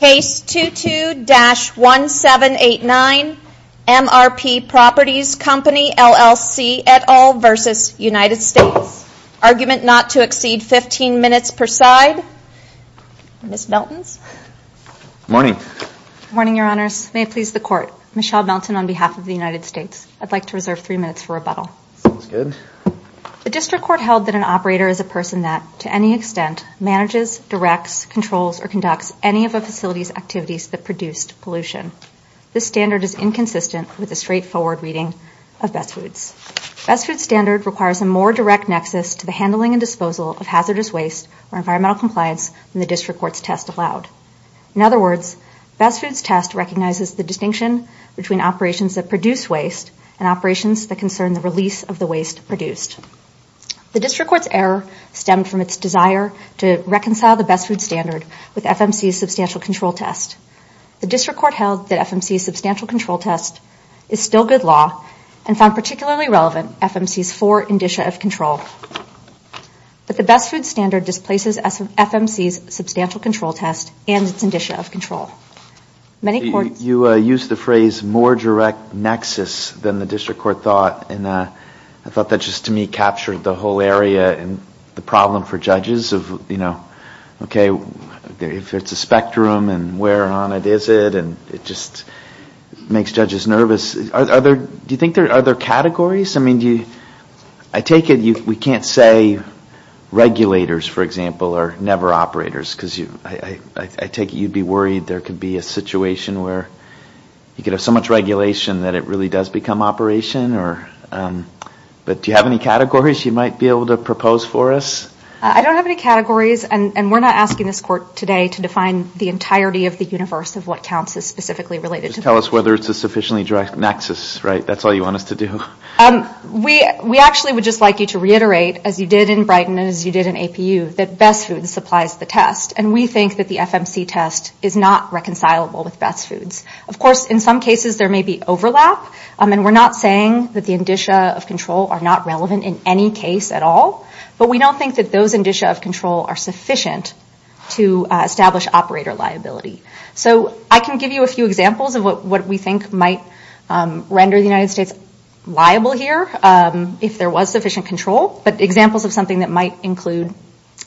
Case 22-1789, MRP Properties Company LLC et al. versus United States. Argument not to exceed 15 minutes per side. Ms. Melton. Morning. Morning, your honors. May it please the court. Michelle Melton on behalf of the United States. I'd like to reserve three minutes for rebuttal. Sounds good. that to any extent manages, directs, controls, or conducts any of a facility's activities that produced pollution. This standard is inconsistent with a straightforward reading of best foods. Best foods standard requires a more direct nexus to the handling and disposal of hazardous waste or environmental compliance than the district court's test allowed. In other words, best foods test recognizes the distinction between operations that produce waste and operations that concern the release of the waste produced. The district court's error stemmed from its desire to reconcile the best foods standard with FMC's substantial control test. The district court held that FMC's substantial control test is still good law and found particularly relevant FMC's four indicia of control. But the best foods standard displaces FMC's substantial control test and its indicia of control. Many courts. You used the phrase more direct nexus than the district court thought and I thought that just to me captured the whole area and the problem for judges of, you know, okay, if it's a spectrum and where on it is it and it just makes judges nervous. Are there, do you think there are other categories? I mean, do you, I take it we can't say regulators, for example, are never operators because I take it you'd be worried there could be a situation where you could have so much regulation that it really does become operation or, but do you have any categories you might be able to propose for us? I don't have any categories and we're not asking this court today to define the entirety of the universe of what counts as specifically related. Just tell us whether it's a sufficiently direct nexus, right? That's all you want us to do. We actually would just like you to reiterate, as you did in Brighton and as you did in APU, that best foods applies the test and we think that the FMC test is not reconcilable with best foods. Of course, in some cases there may be overlap and we're not saying that the indicia of control are not relevant in any case at all. But we don't think that those indicia of control are sufficient to establish operator liability. So I can give you a few examples of what we think might render the United States liable here if there was sufficient control, but examples of something that might include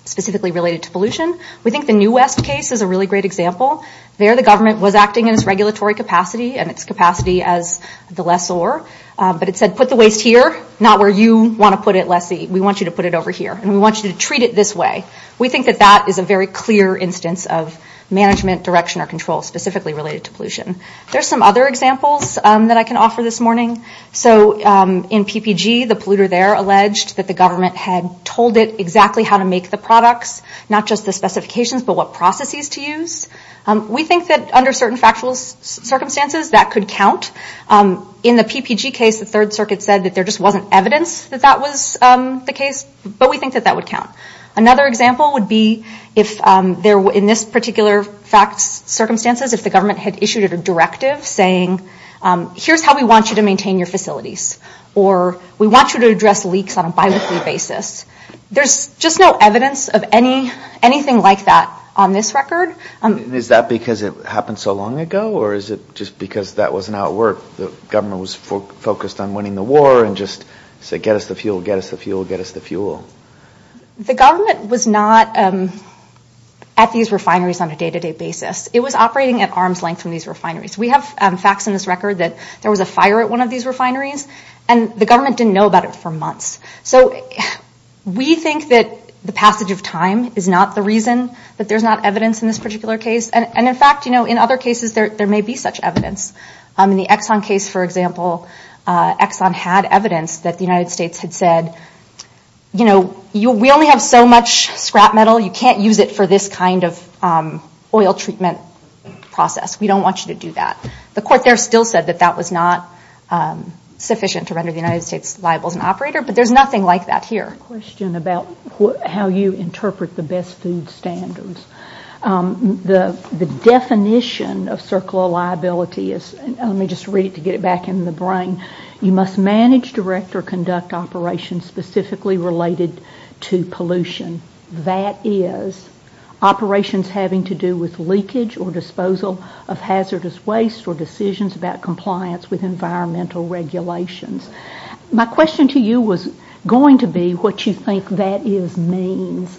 specifically related to pollution. We think the New West case is a really great example. There the government was acting in its regulatory capacity and its capacity as the lessor, but it said put the waste here, not where you want to put it, lessee. We want you to put it over here and we want you to treat it this way. We think that that is a very clear instance of management direction or control specifically related to pollution. There's some other examples that I can offer this morning. So in PPG, the polluter there alleged that the government had told it exactly how to make the products, not just the specifications, but what processes to use. We think that under certain factual circumstances that could count. In the PPG case, the Third Circuit said that there just wasn't evidence that that was the case, but we think that that would count. Another example would be if there were, in this particular fact circumstances, if the government had issued a directive saying here's how we want you to maintain your facilities or we want you to address leaks on a bi-weekly basis. There's just no evidence of anything like that on this record. Is that because it happened so long ago or is it just because that wasn't how it worked? The government was focused on winning the war and just said get us the fuel, get us the fuel, get us the fuel. The government was not at these refineries on a day-to-day basis. It was operating at arm's length from these refineries. We have facts in this record that there was a fire at one of these refineries and the government didn't know about it for months. So we think that the passage of time is not the reason that there's not evidence in this particular case. And in fact, you know, in other cases there may be such evidence. In the Exxon case, for example, Exxon had evidence that the United States had said, you know, we only have so much scrap metal. You can't use it for this kind of oil treatment process. We don't want you to do that. The court there still said that that was not sufficient to render the United States liable as an operator. But there's nothing like that here. I have a question about how you interpret the best food standards. The definition of circular liability is, let me just read it to get it back in the brain. You must manage, direct, or conduct operations specifically related to pollution. That is, operations having to do with leakage or disposal of hazardous waste or decisions about compliance with environmental regulations. My question to you was going to be what you think that is means,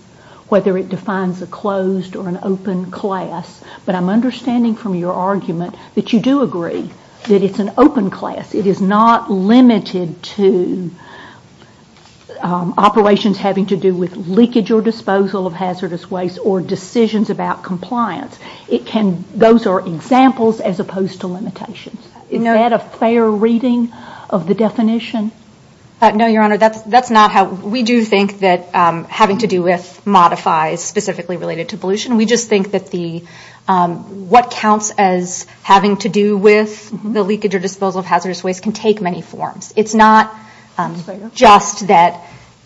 whether it defines a closed or an open class. But I'm understanding from your argument that you do agree that it's an open class. It is not limited to operations having to do with leakage or disposal of hazardous waste or decisions about compliance. It can, those are examples as opposed to limitations. Is that a fair reading of the definition? No, Your Honor, that's not how, we do think that having to do with modifies specifically related to pollution. We just think that the, what counts as having to do with the leakage or disposal of hazardous waste can take many forms. It's not just that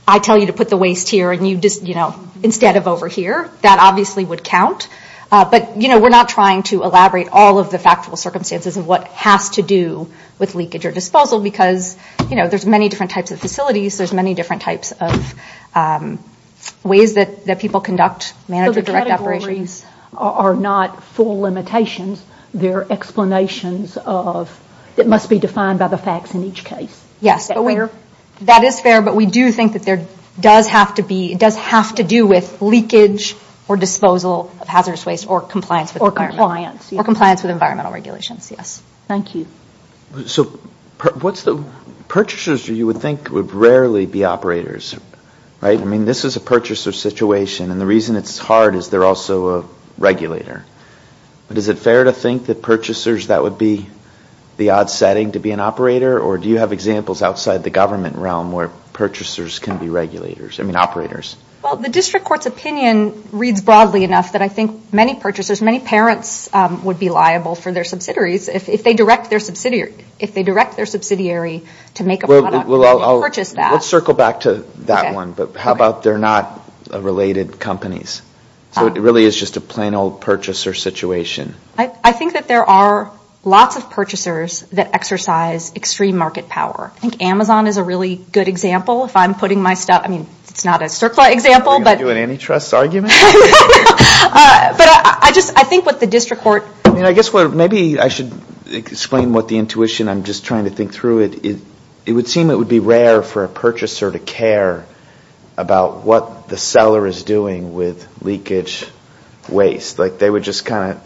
I tell you to put the waste here and you just, you know, instead of over here, that obviously would count. But, you know, we're not trying to elaborate all of the factual circumstances of what has to do with leakage or disposal because, you know, there's many different types of facilities. There's many different types of ways that people conduct managed or direct operations. So the categories are not full limitations, they're explanations of, it must be defined by the facts in each case. Yes, that is fair, but we do think that there does have to be, it does have to do with leakage or disposal of hazardous waste or compliance with environmental regulations, yes. Thank you. So what's the, purchasers you would think would rarely be operators, right? I mean, this is a purchaser situation and the reason it's hard is they're also a regulator. But is it fair to think that purchasers, that would be the odd setting to be an operator or do you have examples outside the government realm where purchasers can be regulators, I mean operators? Well, the district court's opinion reads broadly enough that I think many purchasers, many parents would be liable for their subsidiaries if they direct their subsidiary to make a product and purchase that. Well, let's circle back to that one, but how about they're not related companies? So it really is just a plain old purchaser situation. I think that there are lots of purchasers that exercise extreme market power. I think Amazon is a really good example. If I'm putting my stuff, I mean, it's not a circular example, but. Are you going to do an antitrust argument? But I just, I think what the district court. I mean, I guess maybe I should explain what the intuition, I'm just trying to think through it. It would seem it would be rare for a purchaser to care about what the seller is doing with leakage waste. Like they would just kind of,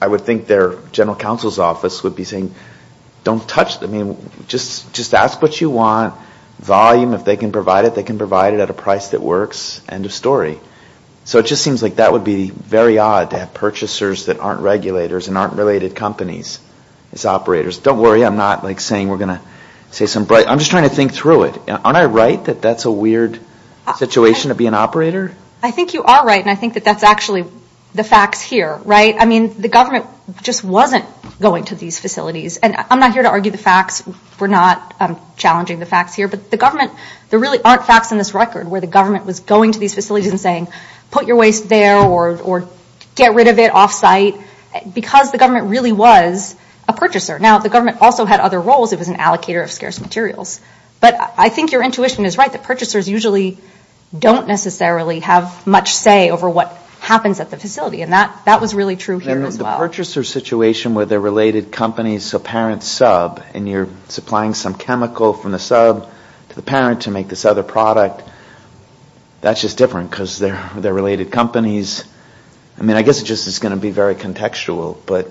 I would think their general counsel's office would be saying, don't touch, I mean, just ask what you want, volume, if they can provide it, they can provide it at a price that works, end of story. So it just seems like that would be very odd to have purchasers that aren't regulators and aren't related companies as operators. Don't worry, I'm not like saying we're going to say some, I'm just trying to think through it. Aren't I right that that's a weird situation to be an operator? I think you are right, and I think that that's actually the facts here, right? I mean, the government just wasn't going to these facilities. And I'm not here to argue the facts, we're not challenging the facts here, but the government, there really aren't facts in this record where the government was going to these facilities and saying, put your waste there or get rid of it off-site, because the government really was a purchaser. Now, the government also had other roles, it was an allocator of scarce materials. But I think your intuition is right, that purchasers usually don't necessarily have much say over what happens at the facility, and that was really true here as well. And the purchaser situation where they're related companies, so parent sub, and you're supplying some chemical from the sub to the parent to make this other product, that's just different because they're related companies. I mean, I guess it's just going to be very contextual, but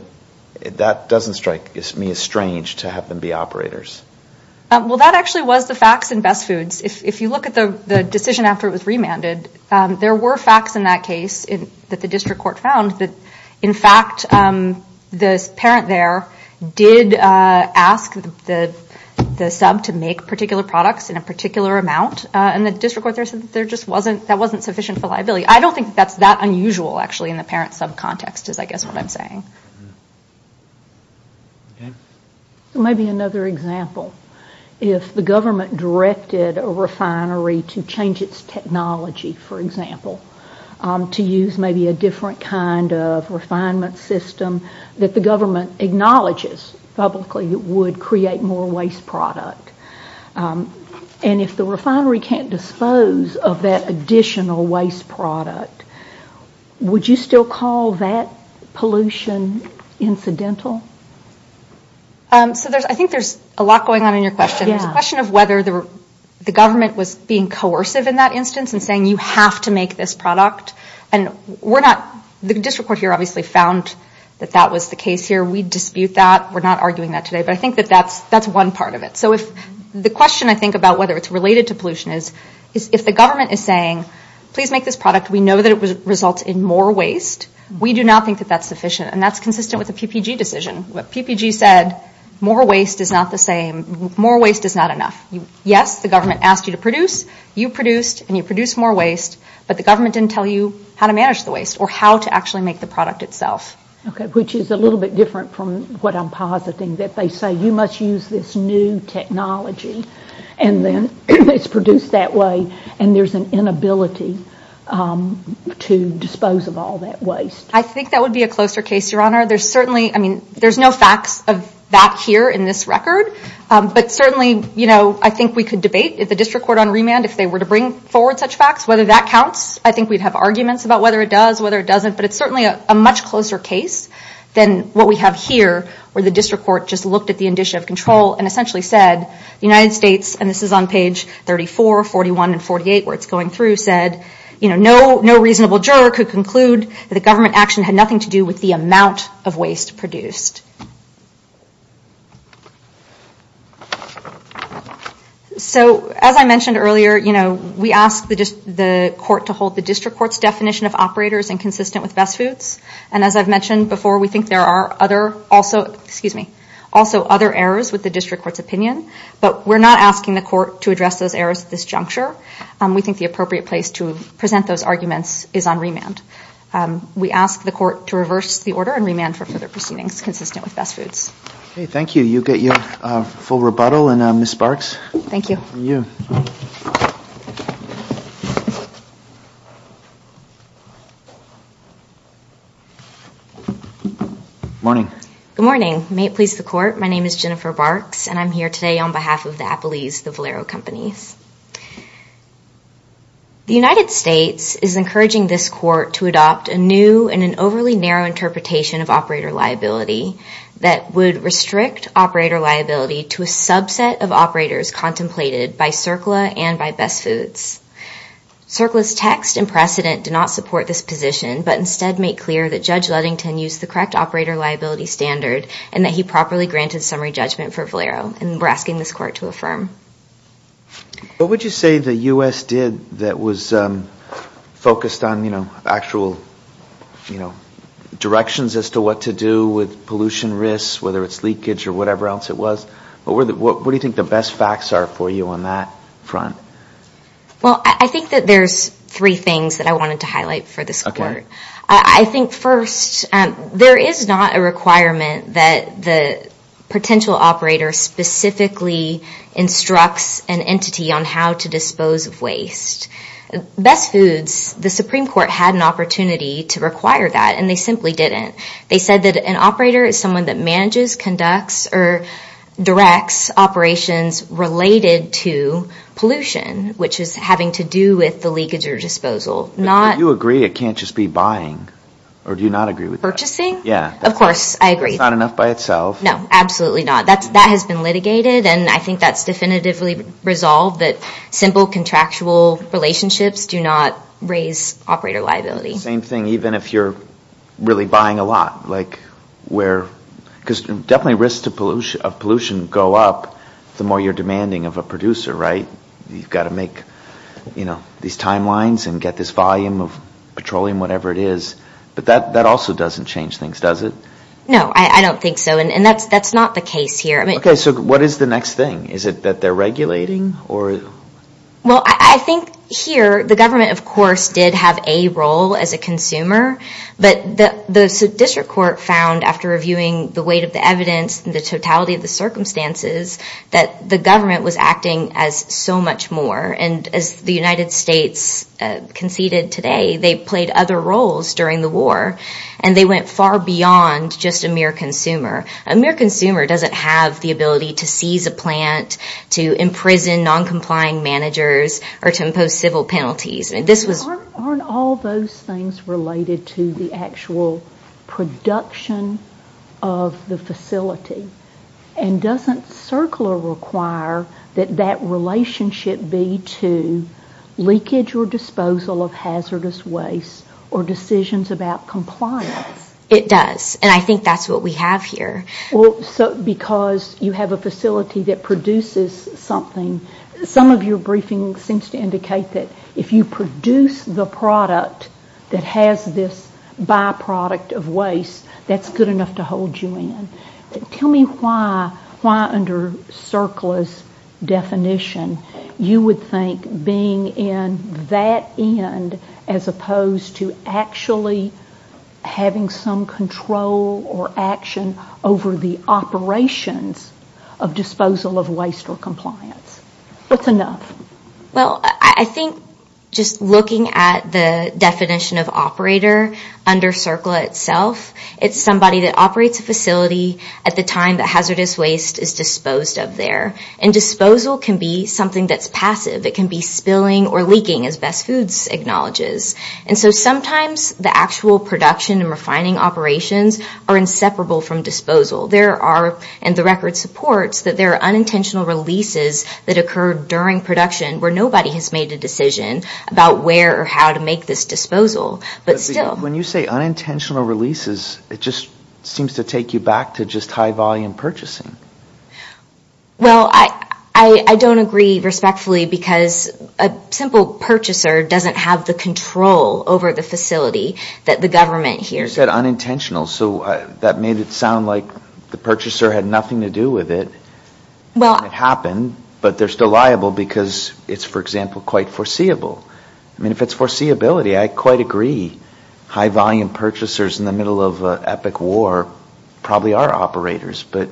that doesn't strike me as strange to have them be operators. Well, that actually was the facts in Best Foods. If you look at the decision after it was remanded, there were facts in that case that the district court found that, in fact, the parent there did ask the sub to make particular products in a particular amount. And the district court there said that that wasn't sufficient for liability. I don't think that's that unusual, actually, in the parent sub context is I guess what I'm saying. Maybe another example, if the government directed a refinery to change its technology, for example, to use maybe a different kind of refinement system that the government acknowledges publicly would create more waste product. And if the refinery can't dispose of that additional waste product, would you still call that pollution incidental? So I think there's a lot going on in your question. There's a question of whether the government was being coercive in that instance and saying you have to make this product. And we're not, the district court here obviously found that that was the case here. We dispute that. We're not arguing that today. But I think that that's one part of it. So if the question I think about whether it's related to pollution is if the government is saying please make this product. We know that it results in more waste. We do not think that that's sufficient. And that's consistent with the PPG decision. What PPG said, more waste is not the same. More waste is not enough. Yes, the government asked you to produce. You produced. And you produced more waste. But the government didn't tell you how to manage the waste or how to actually make the product itself. Okay, which is a little bit different from what I'm positing. That they say you must use this new technology. And then it's produced that way. And there's an inability to dispose of all that waste. I think that would be a closer case, Your Honor. There's certainly, I mean, there's no facts of that here in this record. If they were to bring forward such facts, whether that counts, I think we'd have arguments about whether it does, whether it doesn't. But it's certainly a much closer case than what we have here where the district court just looked at the condition of control and essentially said the United States, and this is on page 34, 41, and 48 where it's going through, said, you know, no reasonable juror could conclude that the government action had nothing to do with the amount of waste produced. So, as I mentioned earlier, you know, we asked the court to hold the district court's definition of operators inconsistent with best foods. And as I've mentioned before, we think there are other, also, excuse me, also other errors with the district court's opinion. But we're not asking the court to address those errors at this juncture. We think the appropriate place to present those arguments is on remand. We ask the court to reverse the order and remand for further proceedings consistent with best foods. Okay, thank you. You get your full rebuttal, and Ms. Barks. Thank you. And you. Morning. Good morning. May it please the court. My name is Jennifer Barks. And I'm here today on behalf of the Appleys, the Valero companies. The United States is encouraging this court to adopt a new and an overly narrow interpretation of operator liability that would restrict operator liability to a subset of operators contemplated by CERCLA and by Best Foods. CERCLA's text and precedent do not support this position, but instead make clear that Judge Luddington used the correct operator liability standard and that he properly granted summary judgment for Valero. And we're asking this court to affirm. What would you say the U.S. did that was focused on, you know, actual, you know, directions as to what to do with pollution risks, whether it's leakage or whatever else it was? What do you think the best facts are for you on that front? Well, I think that there's three things that I wanted to highlight for this court. Okay. I think first, there is not a requirement on how to dispose of waste. Best Foods, the Supreme Court, had an opportunity to require that, and they simply didn't. They said that an operator is someone that manages, conducts, or directs operations related to pollution, which is having to do with the leakage or disposal. Do you agree it can't just be buying, or do you not agree with that? Purchasing? Yeah. Of course, I agree. It's not enough by itself. No, absolutely not. That has been litigated, and I think that's definitively resolved, that simple contractual relationships do not raise operator liability. Same thing, even if you're really buying a lot, like where, because definitely risks of pollution go up the more you're demanding of a producer, right? You've got to make, you know, these timelines and get this volume of petroleum, whatever it is, but that also doesn't change things, does it? No, I don't think so, and that's not the case here. Okay, so what is the next thing? Is it that they're regulating? Well, I think here the government, of course, did have a role as a consumer, but the district court found, after reviewing the weight of the evidence and the totality of the circumstances, that the government was acting as so much more, and as the United States conceded today, they played other roles during the war, and they went far beyond just a mere consumer. A mere consumer doesn't have the ability to seize a plant, to imprison noncompliant managers, or to impose civil penalties. Aren't all those things related to the actual production of the facility? And doesn't CERCLA require that that relationship be to leakage or disposal of hazardous waste or decisions about compliance? It does, and I think that's what we have here. Well, because you have a facility that produces something, some of your briefing seems to indicate that if you produce the product that has this byproduct of waste, that's good enough to hold you in. Tell me why under CERCLA's definition you would think being in that end as opposed to actually having some control or action over the operations of disposal of waste or compliance. What's enough? Well, I think just looking at the definition of operator under CERCLA itself, it's somebody that operates a facility at the time that hazardous waste is disposed of there. And disposal can be something that's passive. It can be spilling or leaking, as Best Foods acknowledges. And so sometimes the actual production and refining operations are inseparable from disposal. There are, and the record supports, that there are unintentional releases that occur during production where nobody has made a decision about where or how to make this disposal. But still. When you say unintentional releases, it just seems to take you back to just high volume purchasing. Well, I don't agree respectfully because a simple purchaser doesn't have the control over the facility that the government hears of. You said unintentional, so that made it sound like the purchaser had nothing to do with it. It happened, but they're still liable because it's, for example, quite foreseeable. I mean, if it's foreseeability, I quite agree. High volume purchasers in the middle of an epic war probably are operators. But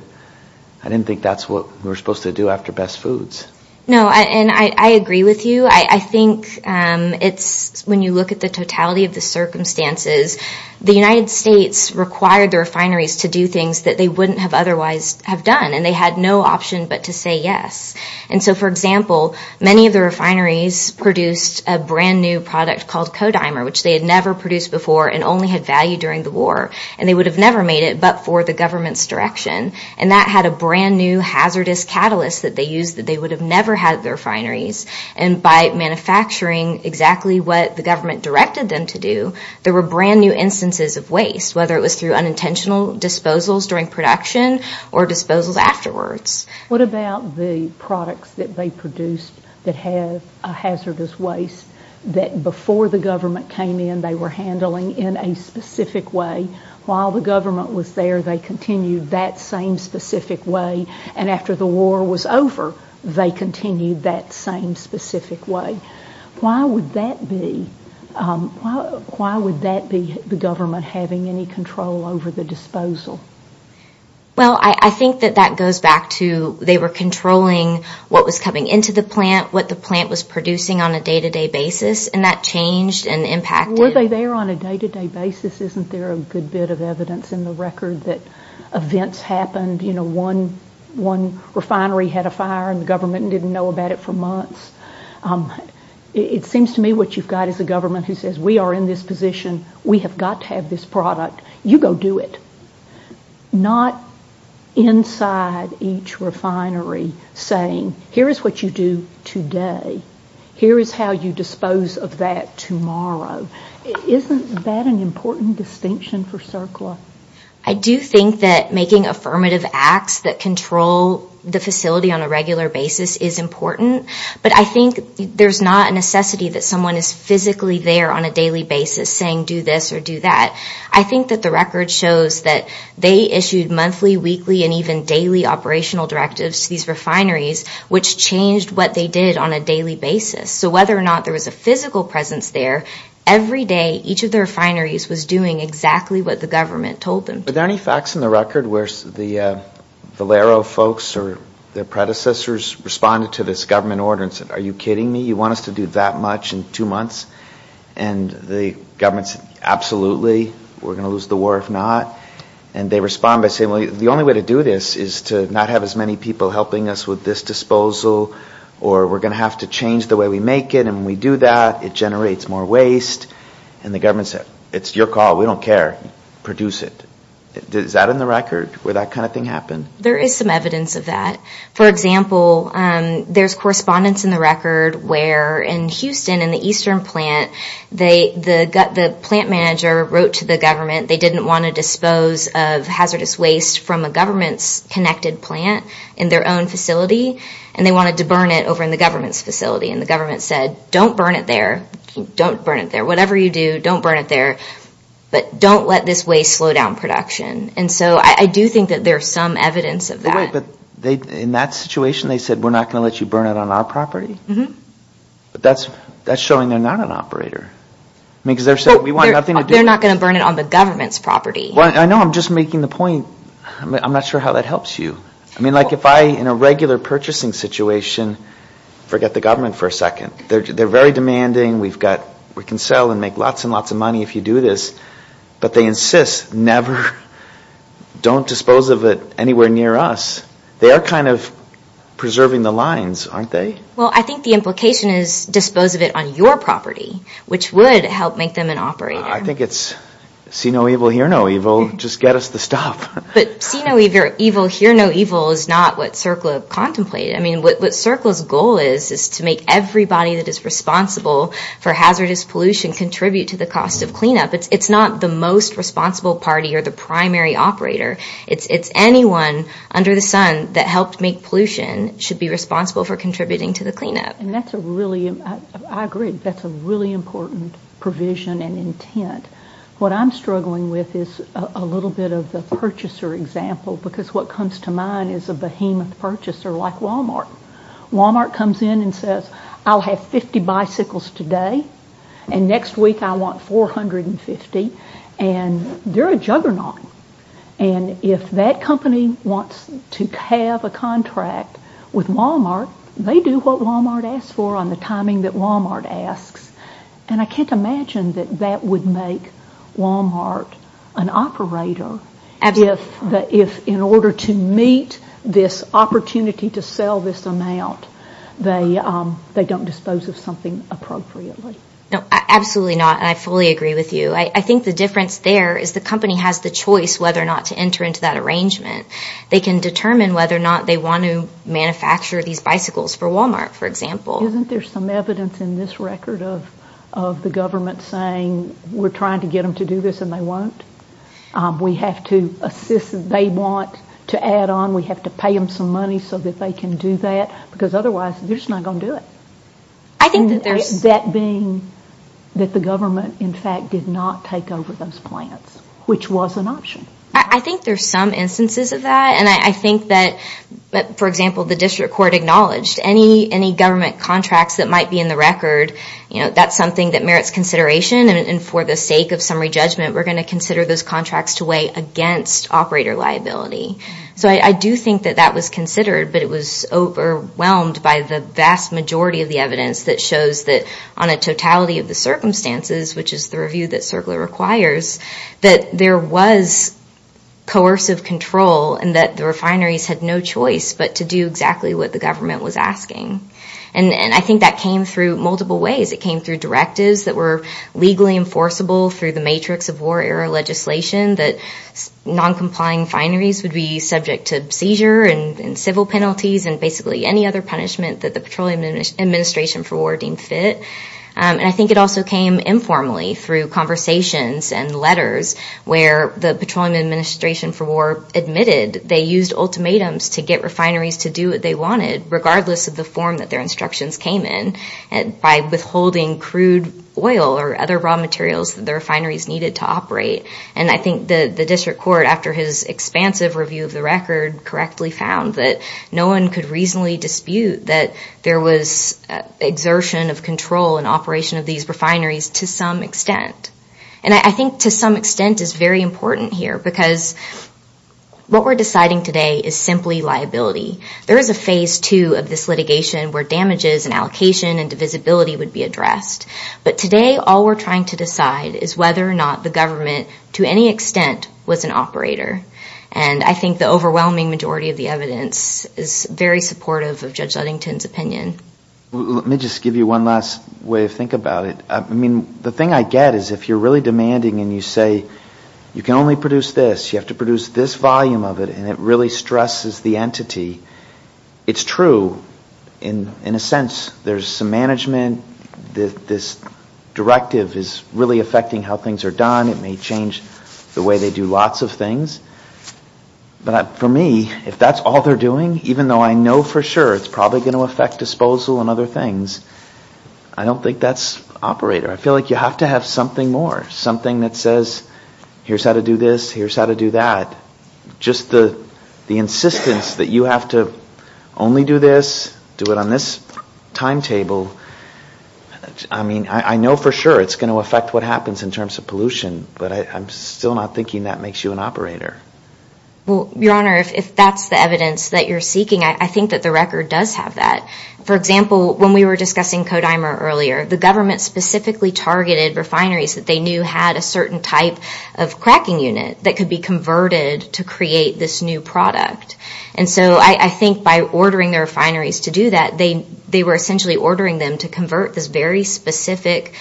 I didn't think that's what we were supposed to do after Best Foods. No, and I agree with you. I think it's when you look at the totality of the circumstances, the United States required the refineries to do things that they wouldn't have otherwise have done, and they had no option but to say yes. And so, for example, many of the refineries produced a brand-new product called Kodimer, which they had never produced before and only had value during the war. And they would have never made it but for the government's direction. And that had a brand-new hazardous catalyst that they used that they would have never had at their refineries. And by manufacturing exactly what the government directed them to do, there were brand-new instances of waste, whether it was through unintentional disposals during production or disposals afterwards. What about the products that they produced that had hazardous waste that before the government came in, they were handling in a specific way. While the government was there, they continued that same specific way. And after the war was over, they continued that same specific way. Why would that be the government having any control over the disposal? Well, I think that that goes back to they were controlling what was coming into the plant, what the plant was producing on a day-to-day basis, and that changed and impacted. Were they there on a day-to-day basis? Isn't there a good bit of evidence in the record that events happened? You know, one refinery had a fire and the government didn't know about it for months. It seems to me what you've got is a government who says, we are in this position. We have got to have this product. You go do it. Not inside each refinery saying, here is what you do today. Here is how you dispose of that tomorrow. Isn't that an important distinction for CERCLA? I do think that making affirmative acts that control the facility on a regular basis is important. But I think there is not a necessity that someone is physically there on a daily basis saying do this or do that. I think that the record shows that they issued monthly, weekly, and even daily operational directives to these refineries, which changed what they did on a daily basis. So whether or not there was a physical presence there, every day each of the refineries was doing exactly what the government told them to. Are there any facts in the record where the Valero folks or their predecessors responded to this government order and said, are you kidding me? You want us to do that much in two months? And the government said, absolutely. We're going to lose the war if not. And they respond by saying, well, the only way to do this is to not have as many people helping us with this disposal, or we're going to have to change the way we make it. And when we do that, it generates more waste. And the government said, it's your call. We don't care. Produce it. Is that in the record where that kind of thing happened? There is some evidence of that. For example, there's correspondence in the record where in Houston and the Eastern plant, the plant manager wrote to the government. They didn't want to dispose of hazardous waste from a government-connected plant in their own facility, and they wanted to burn it over in the government's facility. And the government said, don't burn it there. Don't burn it there. Whatever you do, don't burn it there. But don't let this waste slow down production. And so I do think that there's some evidence of that. But in that situation, they said, we're not going to let you burn it on our property? That's showing they're not an operator. They're not going to burn it on the government's property. I know. I'm just making the point. I'm not sure how that helps you. I mean, like if I, in a regular purchasing situation, forget the government for a second. They're very demanding. We can sell and make lots and lots of money if you do this. But they insist, never, don't dispose of it anywhere near us. They are kind of preserving the lines, aren't they? Well, I think the implication is dispose of it on your property, which would help make them an operator. I think it's see no evil, hear no evil, just get us the stuff. But see no evil, hear no evil is not what CERCLA contemplated. I mean, what CERCLA's goal is is to make everybody that is responsible for hazardous pollution contribute to the cost of cleanup. It's not the most responsible party or the primary operator. It's anyone under the sun that helped make pollution should be responsible for contributing to the cleanup. And that's a really, I agree, that's a really important provision and intent. What I'm struggling with is a little bit of the purchaser example, because what comes to mind is a behemoth purchaser like Wal-Mart. Wal-Mart comes in and says, I'll have 50 bicycles today, and next week I want 450. And they're a juggernaut. And if that company wants to have a contract with Wal-Mart, they do what Wal-Mart asks for on the timing that Wal-Mart asks. And I can't imagine that that would make Wal-Mart an operator if in order to meet this opportunity to sell this amount, they don't dispose of something appropriately. No, absolutely not. And I fully agree with you. I think the difference there is the company has the choice whether or not to enter into that arrangement. They can determine whether or not they want to manufacture these bicycles for Wal-Mart, for example. Isn't there some evidence in this record of the government saying we're trying to get them to do this and they won't? We have to assist, they want to add on, we have to pay them some money so that they can do that, because otherwise they're just not going to do it. That being that the government, in fact, did not take over those plants, which was an option. I think there's some instances of that. And I think that, for example, the district court acknowledged any government contracts that might be in the record, that's something that merits consideration. And for the sake of summary judgment, we're going to consider those contracts to weigh against operator liability. So I do think that that was considered, but it was overwhelmed by the vast majority of the evidence that shows that on a totality of the circumstances, which is the review that CERCLA requires, that there was coercive control and that the refineries had no choice but to do exactly what the government was asking. And I think that came through multiple ways. It came through directives that were legally enforceable through the matrix of war era legislation, that non-complying fineries would be subject to seizure and civil penalties and basically any other punishment that the Petroleum Administration for War deemed fit. And I think it also came informally through conversations and letters where the Petroleum Administration for War admitted they used ultimatums to get refineries to do what they wanted, regardless of the form that their instructions came in, by withholding crude oil or other raw materials that the refineries needed to operate. And I think the district court, after his expansive review of the record, correctly found that no one could reasonably dispute that there was exertion of control and operation of these refineries to some extent. And I think to some extent is very important here because what we're deciding today is simply liability. There is a phase two of this litigation where damages and allocation and divisibility would be addressed. But today, all we're trying to decide is whether or not the government, to any extent, was an operator. And I think the overwhelming majority of the evidence is very supportive of Judge Ludington's opinion. Let me just give you one last way to think about it. I mean, the thing I get is if you're really demanding and you say, you can only produce this, you have to produce this volume of it, and it really stresses the entity, it's true in a sense. There's some management. This directive is really affecting how things are done. It may change the way they do lots of things. But for me, if that's all they're doing, even though I know for sure it's probably going to affect disposal and other things, I don't think that's operator. I feel like you have to have something more, something that says, here's how to do this, here's how to do that. Just the insistence that you have to only do this, do it on this timetable, I mean, I know for sure it's going to affect what happens in terms of pollution, but I'm still not thinking that makes you an operator. Well, Your Honor, if that's the evidence that you're seeking, I think that the record does have that. For example, when we were discussing Kodimer earlier, the government specifically targeted refineries that they knew had a certain type of cracking unit that could be converted to create this new product. And so I think by ordering the refineries to do that, they were essentially ordering them to convert this very specific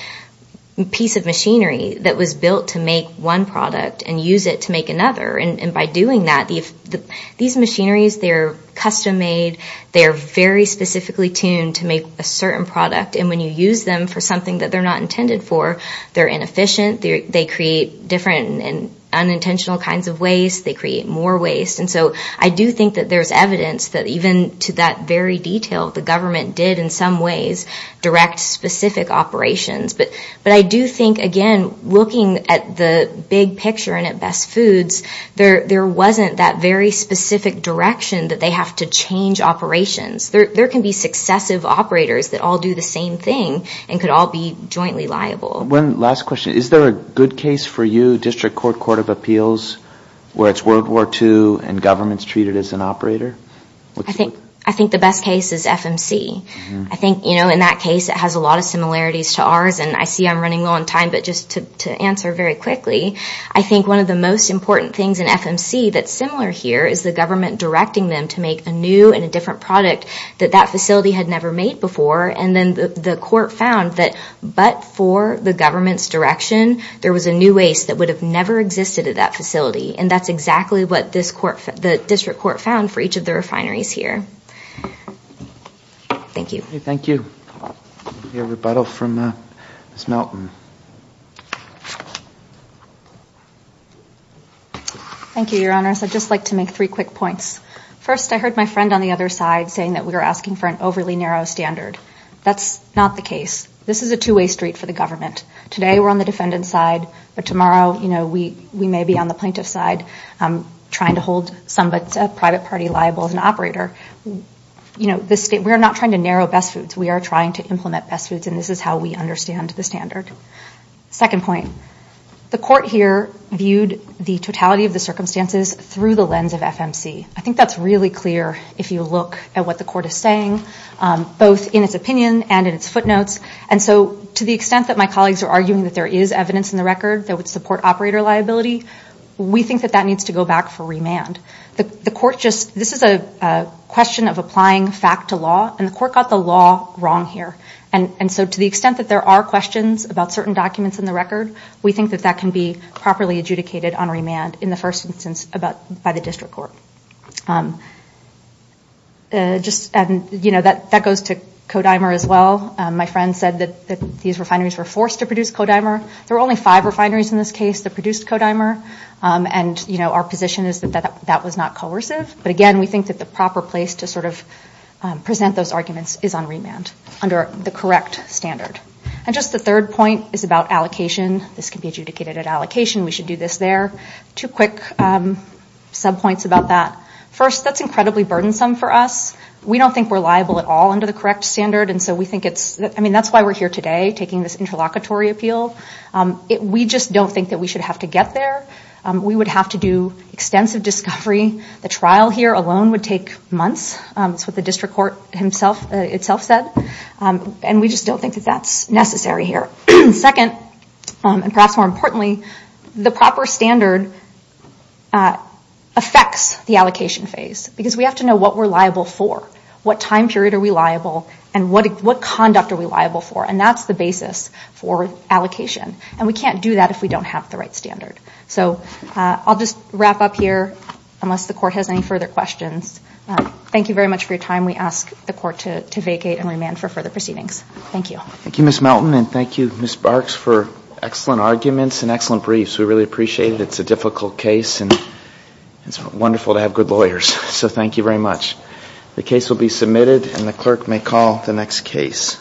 piece of machinery that was built to make one product and use it to make another. And by doing that, these machineries, they're custom-made, they're very specifically tuned to make a certain product, and when you use them for something that they're not intended for, they're inefficient, they create different and unintentional kinds of waste, they create more waste. And so I do think that there's evidence that even to that very detail, the government did in some ways direct specific operations. But I do think, again, looking at the big picture and at Best Foods, there wasn't that very specific direction that they have to change operations. There can be successive operators that all do the same thing and could all be jointly liable. One last question. Is there a good case for you, District Court, Court of Appeals, where it's World War II and government's treated as an operator? I think the best case is FMC. I think in that case, it has a lot of similarities to ours, and I see I'm running low on time, but just to answer very quickly, I think one of the most important things in FMC that's similar here is the government directing them to make a new and a different product that that facility had never made before, and then the court found that but for the government's direction, there was a new waste that would have never existed at that facility. And that's exactly what the district court found for each of the refineries here. Thank you. Thank you. We have a rebuttal from Ms. Melton. Thank you, Your Honors. I'd just like to make three quick points. First, I heard my friend on the other side saying that we were asking for an overly narrow standard. That's not the case. This is a two-way street for the government. Today, we're on the defendant's side, but tomorrow, you know, we may be on the plaintiff's side trying to hold some private party liable as an operator. You know, we're not trying to narrow best foods. We are trying to implement best foods, and this is how we understand the standard. Second point, the court here viewed the totality of the circumstances through the lens of FMC. I think that's really clear if you look at what the court is saying, both in its opinion and in its footnotes. And so to the extent that my colleagues are arguing that there is evidence in the record that would support operator liability, we think that that needs to go back for remand. This is a question of applying fact to law, and the court got the law wrong here. And so to the extent that there are questions about certain documents in the record, we think that that can be properly adjudicated on remand in the first instance by the district court. That goes to Kodimer as well. My friend said that these refineries were forced to produce Kodimer. There were only five refineries in this case that produced Kodimer, and our position is that that was not coercive. But again, we think that the proper place to sort of present those arguments is on remand under the correct standard. And just the third point is about allocation. This can be adjudicated at allocation. We should do this there. Two quick subpoints about that. First, that's incredibly burdensome for us. We don't think we're liable at all under the correct standard, and so we think it's – I mean, that's why we're here today taking this interlocutory appeal. We just don't think that we should have to get there. We would have to do extensive discovery. The trial here alone would take months. That's what the district court itself said. And we just don't think that that's necessary here. Second, and perhaps more importantly, the proper standard affects the allocation phase because we have to know what we're liable for, what time period are we liable, and what conduct are we liable for. And that's the basis for allocation. And we can't do that if we don't have the right standard. So I'll just wrap up here unless the court has any further questions. Thank you very much for your time. We ask the court to vacate and remand for further proceedings. Thank you. Thank you, Ms. Melton, and thank you, Ms. Barks, for excellent arguments and excellent briefs. We really appreciate it. It's a difficult case, and it's wonderful to have good lawyers. So thank you very much. The case will be submitted, and the clerk may call the next case.